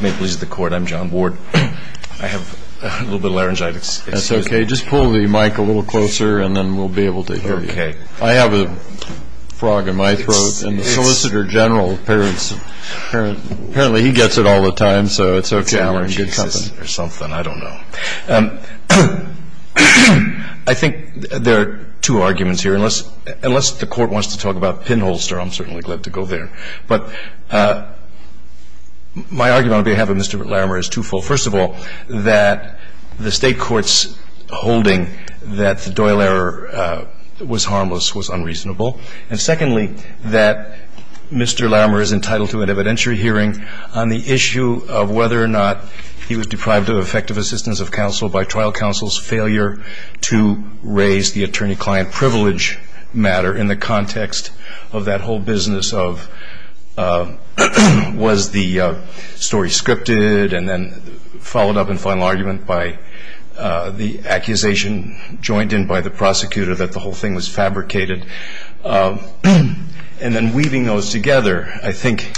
May it please the Court, I'm John Ward. I have a little bit of laryngitis. That's okay. Just pull the mic a little closer and then we'll be able to hear you. Okay. I have a frog in my throat and the Solicitor General apparently he gets it all the time, so it's okay. It's allergies or something, I don't know. I think there are two arguments here. Unless the Court wants to talk about pinholster, I'm certainly glad to go there. But my argument on behalf of Mr. Larimer is twofold. First of all, that the State court's holding that the Doyle error was harmless was unreasonable. And secondly, that Mr. Larimer is entitled to an evidentiary hearing on the issue of whether or not he was deprived of effective assistance of counsel by trial counsel's failure to raise the attorney-client privilege matter in the context of that whole business of was the story scripted and then followed up in final argument by the accusation joined in by the prosecutor that the whole thing was fabricated. And then weaving those together, I think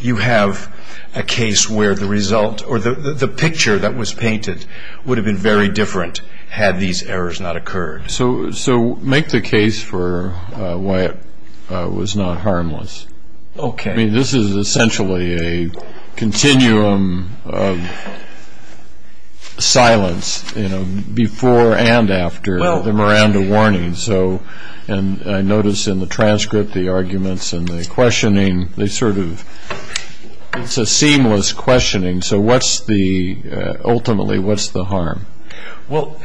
you have a case where the result or the picture that was painted would have been very different had these errors not occurred. So make the case for why it was not harmless. Okay. I mean, this is essentially a continuum of silence, you know, before and after the Miranda warning. And I notice in the transcript the arguments and the questioning, they sort of, it's a seamless questioning. So what's the, ultimately, what's the harm? Well,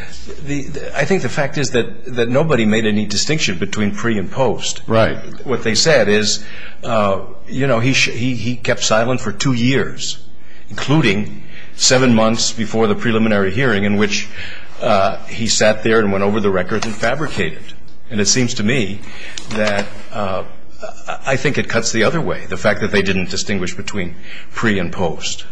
I think the fact is that nobody made any distinction between pre and post. Right. What they said is, you know, he kept silent for two years, including seven months before the preliminary hearing in which he sat there and went over the record and fabricated. And it seems to me that I think it cuts the other way, the fact that they didn't distinguish between pre and post.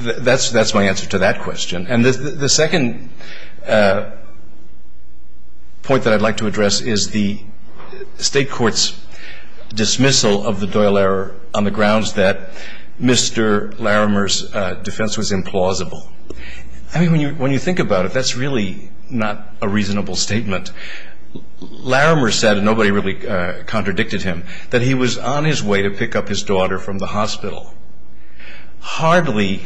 That's my answer to that question. And the second point that I'd like to address is the State Court's dismissal of the Doyle error on the grounds that Mr. Larimer's defense was implausible. I mean, when you think about it, that's really not a reasonable statement. Larimer said, and nobody really contradicted him, that he was on his way to pick up his daughter from the hospital. Hardly,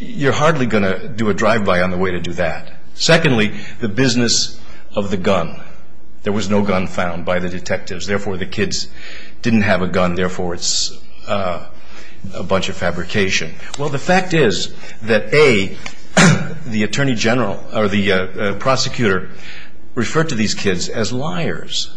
you're hardly going to do a drive-by on the way to do that. Secondly, the business of the gun. There was no gun found by the detectives. Therefore, the kids didn't have a gun. Therefore, it's a bunch of fabrication. Well, the fact is that, A, the Attorney General or the prosecutor referred to these kids as liars,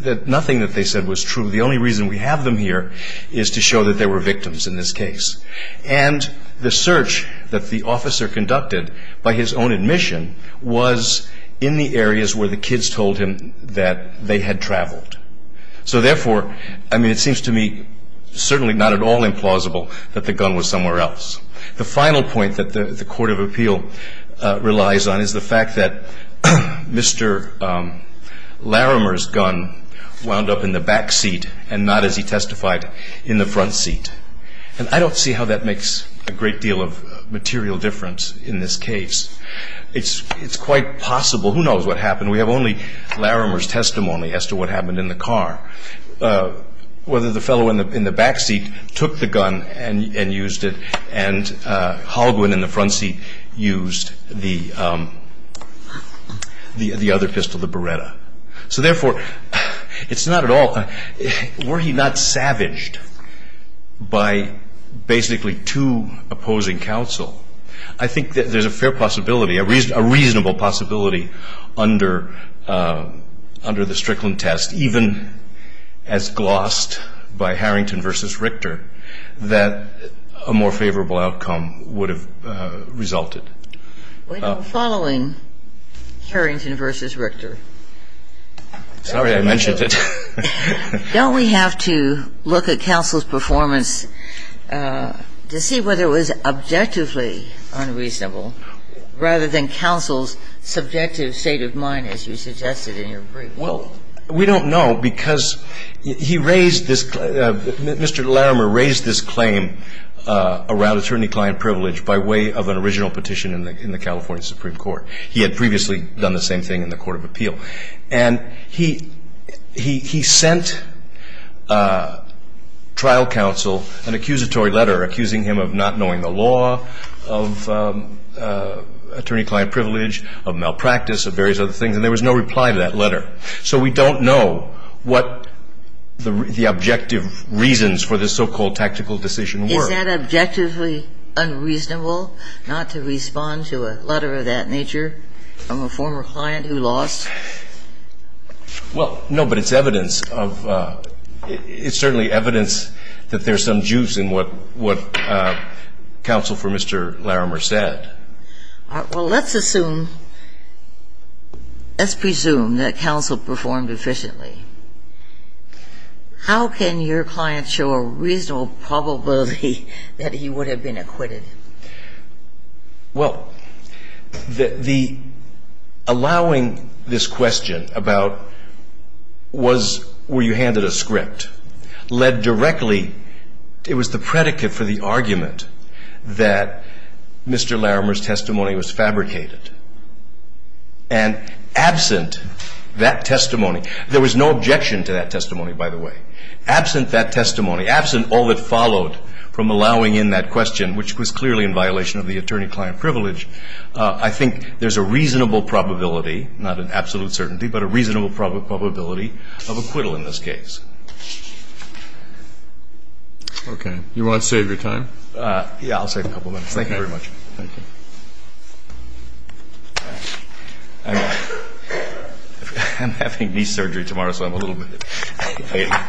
that nothing that they said was true. The only reason we have them here is to show that they were victims in this case. And the search that the officer conducted by his own admission was in the areas where the kids told him that they had traveled. So, therefore, I mean, it seems to me certainly not at all implausible that the gun was somewhere else. The final point that the Court of Appeal relies on is the fact that Mr. Larimer's gun wound up in the back seat and not, as he testified, in the front seat. And I don't see how that makes a great deal of material difference in this case. It's quite possible. Who knows what happened? And we have only Larimer's testimony as to what happened in the car, whether the fellow in the back seat took the gun and used it and Holguin in the front seat used the other pistol, the Beretta. So, therefore, it's not at all – were he not savaged by basically two opposing counsel, I think that there's a fair possibility, a reasonable possibility under the Strickland test, even as glossed by Harrington v. Richter, that a more favorable outcome would have resulted. We're following Harrington v. Richter. Sorry I mentioned it. Don't we have to look at counsel's performance to see whether it was objectively unreasonable rather than counsel's subjective state of mind, as you suggested in your brief? Well, we don't know because he raised this – Mr. Larimer raised this claim around attorney-client privilege by way of an original petition in the California Supreme Court. He had previously done the same thing in the Court of Appeal. And he sent trial counsel an accusatory letter accusing him of not knowing the law, of attorney-client privilege, of malpractice, of various other things. And there was no reply to that letter. So we don't know what the objective reasons for this so-called tactical decision were. Is that objectively unreasonable, not to respond to a letter of that nature from a former client who lost? Well, no, but it's evidence of – it's certainly evidence that there's some juice in what – what counsel for Mr. Larimer said. All right. Well, let's assume – let's presume that counsel performed efficiently. How can your client show a reasonable probability that he would have been acquitted? Well, the – allowing this question about was – where you handed a script led directly – it was the predicate for the argument that Mr. Larimer's testimony was fabricated. And absent that testimony – there was no objection to that testimony, by the way. Absent that testimony, absent all that followed from allowing in that question, which was clearly in violation of the attorney-client privilege, I think there's a reasonable probability – not an absolute certainty, but a reasonable probability of acquittal in this case. Okay. You want to save your time? Yeah, I'll save a couple minutes. Thank you very much. Thank you. I'm having knee surgery tomorrow, so I'm a little bit late.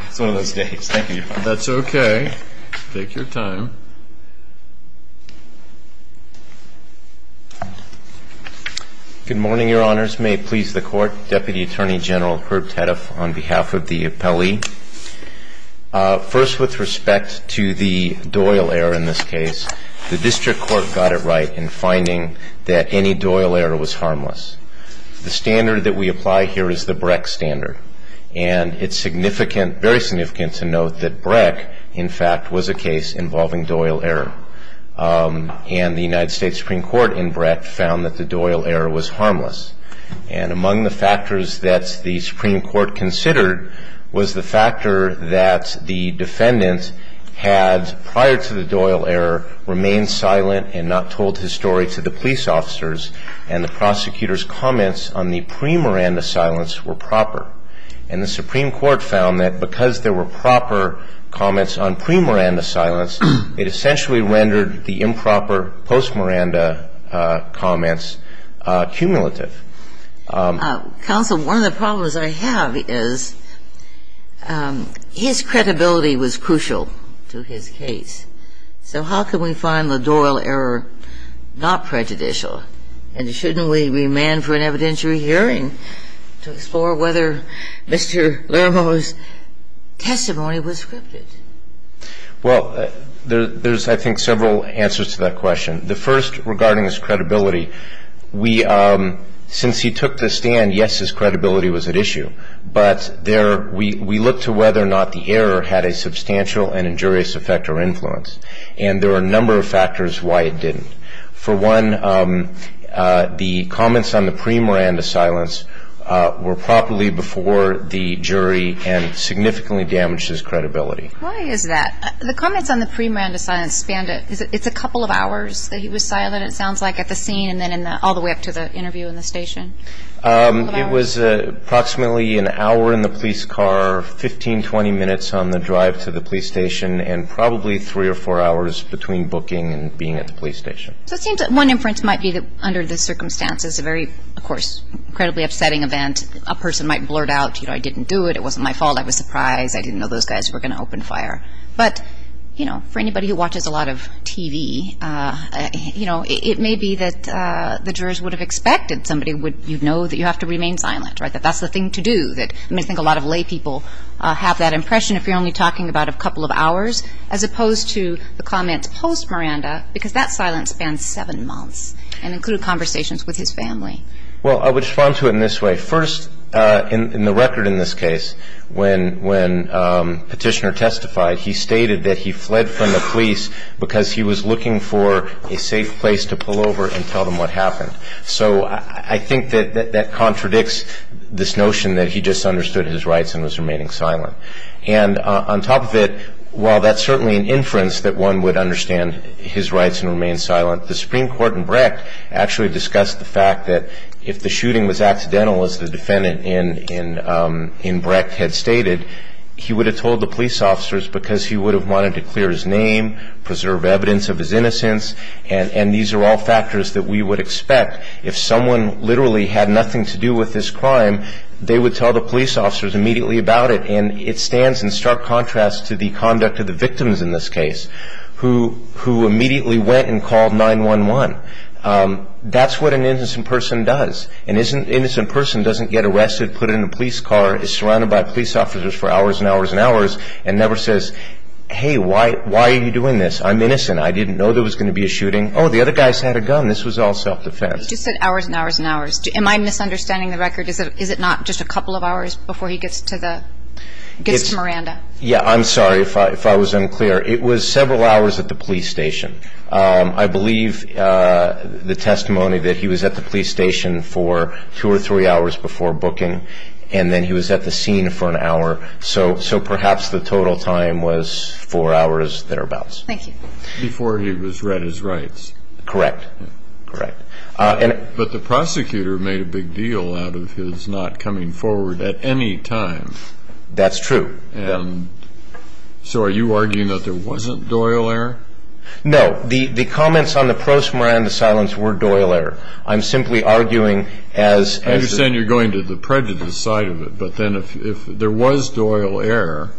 It's one of those days. Thank you, Your Honor. That's okay. Take your time. Good morning, Your Honors. May it please the Court. Deputy Attorney General Herb Teddeff on behalf of the appellee. First, with respect to the Doyle error in this case, the district court got it right in finding that any Doyle error was harmless. The standard that we apply here is the Breck standard. And it's significant – very significant to note that Breck, in fact, was a case involving Doyle error. And the United States Supreme Court in Breck found that the Doyle error was harmless. And among the factors that the Supreme Court considered was the factor that the defendant had, prior to the Doyle error, remained silent and not told his story to the police officers and the prosecutor's comments on the pre-Miranda silence were proper. And the Supreme Court found that because there were proper comments on pre-Miranda silence, it essentially rendered the improper post-Miranda comments cumulative. Counsel, one of the problems I have is his credibility was crucial to his case. So how can we find the Doyle error not prejudicial? And shouldn't we remand for an evidentiary hearing to explore whether Mr. Lermo's testimony was scripted? Well, there's, I think, several answers to that question. The first regarding his credibility, we – since he took the stand, yes, his credibility was at issue. But there – we looked to whether or not the error had a substantial and injurious effect or influence. And there are a number of factors why it didn't. For one, the comments on the pre-Miranda silence were properly before the jury and significantly damaged his credibility. Why is that? The comments on the pre-Miranda silence spanned – it's a couple of hours that he was silent, it sounds like, at the scene and then in the – all the way up to the interview in the station. A couple of hours. It was approximately an hour in the police car, 15, 20 minutes on the drive to the police station, and probably three or four hours between booking and being at the police station. So it seems that one inference might be that under the circumstances, a very, of course, incredibly upsetting event, a person might blurt out, you know, I didn't do it, it wasn't my fault, I was surprised, I didn't know those guys were going to open fire. But, you know, for anybody who watches a lot of TV, you know, it may be that the jurors would have expected somebody would – you'd know that you have to remain silent, right, that that's the thing to do, that – I mean, I think a lot of lay people have that impression if you're only talking about a couple of hours as opposed to the comments post-Miranda because that silence spanned seven months and included conversations with his family. Well, I would respond to it in this way. The first – in the record in this case, when Petitioner testified, he stated that he fled from the police because he was looking for a safe place to pull over and tell them what happened. So I think that that contradicts this notion that he just understood his rights and was remaining silent. And on top of it, while that's certainly an inference that one would understand his rights and remain silent, the Supreme Court in Brecht actually discussed the fact that if the shooting was accidental, as the defendant in Brecht had stated, he would have told the police officers because he would have wanted to clear his name, preserve evidence of his innocence. And these are all factors that we would expect. If someone literally had nothing to do with this crime, they would tell the police officers immediately about it. And it stands in stark contrast to the conduct of the victims in this case who immediately went and called 911. That's what an innocent person does. An innocent person doesn't get arrested, put in a police car, is surrounded by police officers for hours and hours and hours and never says, hey, why are you doing this? I'm innocent. I didn't know there was going to be a shooting. Oh, the other guys had a gun. This was all self-defense. You just said hours and hours and hours. Am I misunderstanding the record? Is it not just a couple of hours before he gets to Miranda? Yeah, I'm sorry if I was unclear. It was several hours at the police station. I believe the testimony that he was at the police station for two or three hours before booking, and then he was at the scene for an hour. So perhaps the total time was four hours thereabouts. Thank you. Before he was read his rights. Correct. Correct. But the prosecutor made a big deal out of his not coming forward at any time. That's true. And so are you arguing that there wasn't Doyle error? No. The comments on the post-Miranda silence were Doyle error. I'm simply arguing as... I understand you're going to the prejudice side of it, but then if there was Doyle error,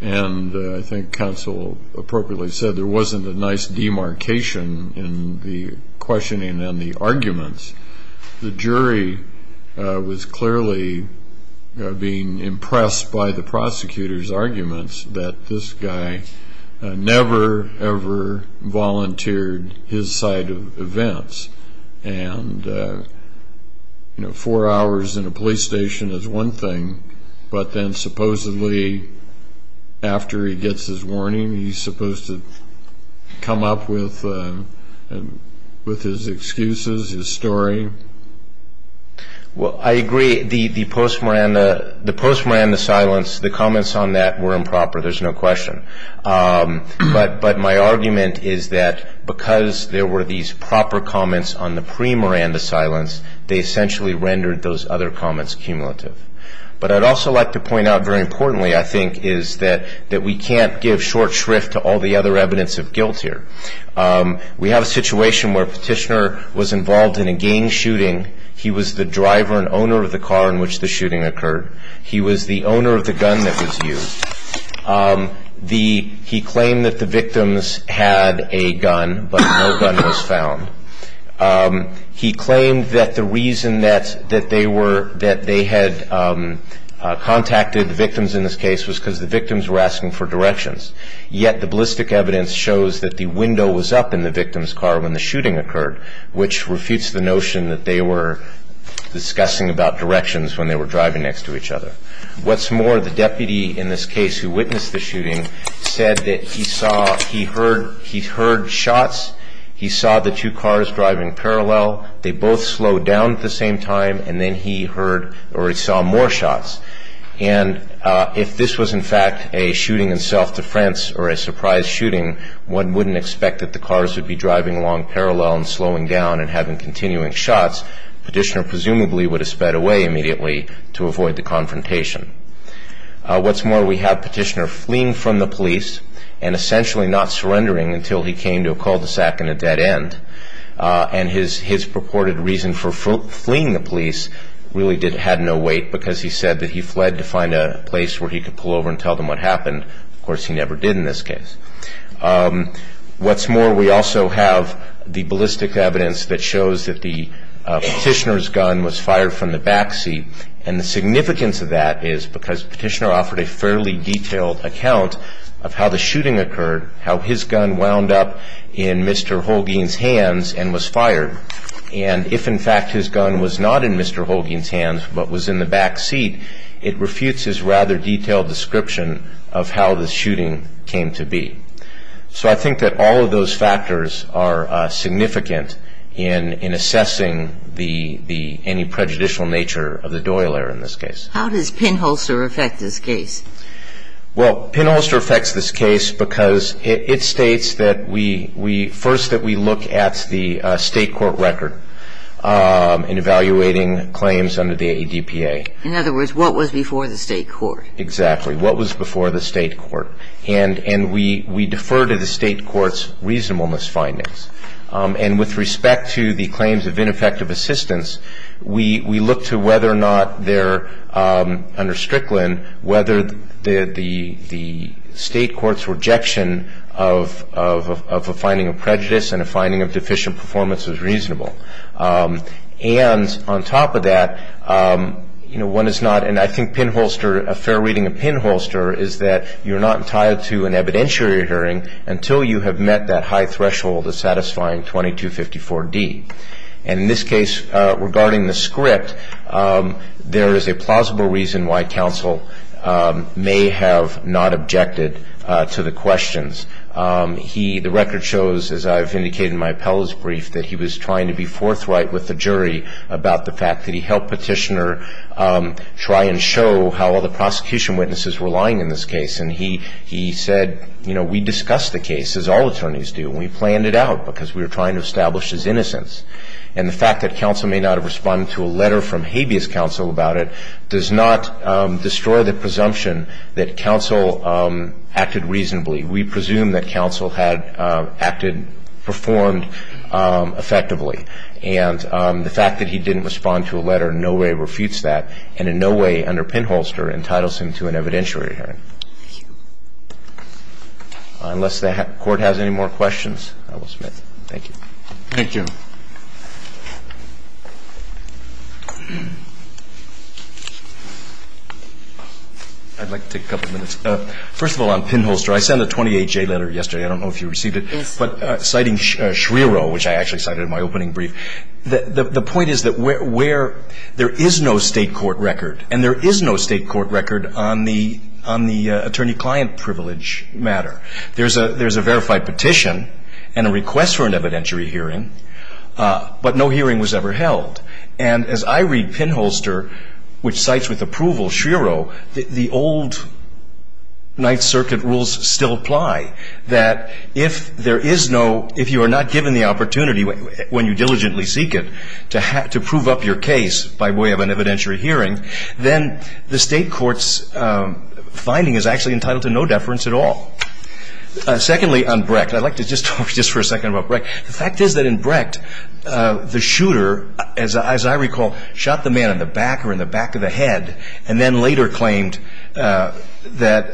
and I think counsel appropriately said there wasn't a nice demarcation in the questioning and the arguments, the jury was clearly being impressed by the prosecutor's arguments that this guy never, ever volunteered his side of events. And, you know, four hours in a police station is one thing, but then supposedly after he gets his warning he's supposed to come up with his excuses, his story. Well, I agree. The post-Miranda silence, the comments on that were improper, there's no question. But my argument is that because there were these proper comments on the pre-Miranda silence, they essentially rendered those other comments cumulative. But I'd also like to point out very importantly, I think, is that we can't give short shrift to all the other evidence of guilt here. We have a situation where a petitioner was involved in a gang shooting. He was the driver and owner of the car in which the shooting occurred. He was the owner of the gun that was used. He claimed that the victims had a gun, but no gun was found. He claimed that the reason that they had contacted the victims in this case was because the victims were asking for directions. Yet the ballistic evidence shows that the window was up in the victim's car when the shooting occurred, which refutes the notion that they were discussing about directions when they were driving next to each other. What's more, the deputy in this case who witnessed the shooting said that he saw, he heard shots. He saw the two cars driving parallel. They both slowed down at the same time, and then he heard or he saw more shots. And if this was, in fact, a shooting in self-defense or a surprise shooting, one wouldn't expect that the cars would be driving along parallel and slowing down and having continuing shots. Petitioner presumably would have sped away immediately to avoid the confrontation. What's more, we have petitioner fleeing from the police and essentially not surrendering until he came to a cul-de-sac in a dead end. And his purported reason for fleeing the police really had no weight, because he said that he fled to find a place where he could pull over and tell them what happened. Of course, he never did in this case. What's more, we also have the ballistic evidence that shows that the petitioner's gun was fired from the backseat. And the significance of that is because petitioner offered a fairly detailed account of how the shooting occurred, how his gun wound up in Mr. Holguin's hands and was fired. And if, in fact, his gun was not in Mr. Holguin's hands but was in the backseat, it refutes his rather detailed description of how the shooting came to be. So I think that all of those factors are significant in assessing the any prejudicial nature of the Doyle error in this case. How does Pinholster affect this case? Well, Pinholster affects this case because it states that we first that we look at the State court record in evaluating claims under the ADPA. In other words, what was before the State court? Exactly. What was before the State court? And we defer to the State court's reasonableness findings. And with respect to the claims of ineffective assistance, we look to whether or not they're under Strickland, and whether the State court's rejection of a finding of prejudice and a finding of deficient performance is reasonable. And on top of that, you know, one is not, and I think Pinholster, a fair reading of Pinholster is that you're not tied to an evidentiary hearing until you have met that high threshold of satisfying 2254D. And in this case, regarding the script, there is a plausible reason why counsel may have not objected to the questions. He, the record shows, as I've indicated in my appellate's brief, that he was trying to be forthright with the jury about the fact that he helped Petitioner try and show how all the prosecution witnesses were lying in this case. And he said, you know, we discussed the case, as all attorneys do, and we planned it out because we were trying to establish his innocence. And the fact that counsel may not have responded to a letter from habeas counsel about it does not destroy the presumption that counsel acted reasonably. We presume that counsel had acted, performed effectively. And the fact that he didn't respond to a letter in no way refutes that and in no way, under Pinholster, entitles him to an evidentiary hearing. Unless the Court has any more questions, I will submit. Thank you. Thank you. I'd like to take a couple of minutes. First of all, on Pinholster, I sent a 28-J letter yesterday. I don't know if you received it. But citing Schreiro, which I actually cited in my opening brief, the point is that there is no state court record, and there is no state court record on the attorney-client privilege matter. There's a verified petition and a request for an evidentiary hearing, but no hearing was ever held. And as I read Pinholster, which cites with approval Schreiro, the old Ninth Circuit rules still apply, that if there is no, if you are not given the opportunity, when you diligently seek it, to prove up your case by way of an evidentiary hearing, then the state court's finding is actually entitled to no deference at all. Secondly, on Brecht, I'd like to just talk just for a second about Brecht. The fact is that in Brecht, the shooter, as I recall, shot the man in the back or in the back of the head and then later claimed that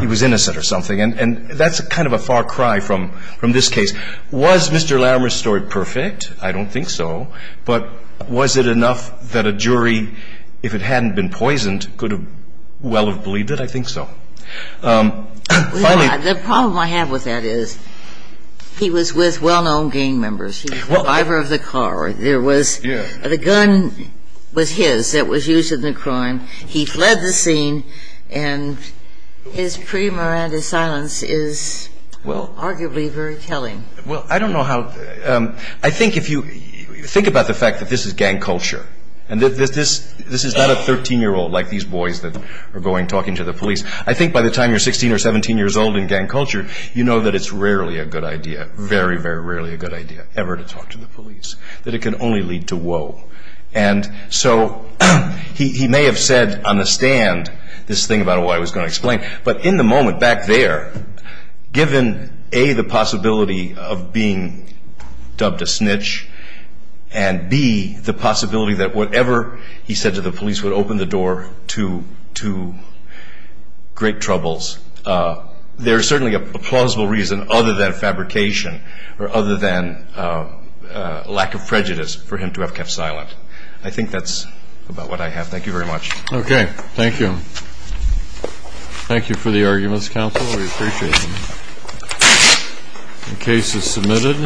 he was innocent or something. And that's kind of a far cry from this case. Was Mr. Larimer's story perfect? I don't think so. But was it enough that a jury, if it hadn't been poisoned, could well have believed it? I think so. Finally ---- The problem I have with that is he was with well-known gang members. He was the driver of the car. There was the gun was his that was used in the crime. He fled the scene. And his pre-Miranda silence is arguably very telling. Well, I don't know how ---- I think if you think about the fact that this is gang culture and that this is not a 13-year-old like these boys that are going talking to the police. I think by the time you're 16 or 17 years old in gang culture, you know that it's rarely a good idea, very, very rarely a good idea ever to talk to the police, that it can only lead to woe. And so he may have said on the stand this thing about what I was going to explain. But in the moment back there, given A, the possibility of being dubbed a snitch, and B, the possibility that whatever he said to the police would open the door to great troubles. There is certainly a plausible reason other than fabrication or other than lack of prejudice for him to have kept silent. I think that's about what I have. Thank you very much. Okay. Thank you. Thank you for the arguments, counsel. We appreciate them. The case is submitted. Thank you. Thank you.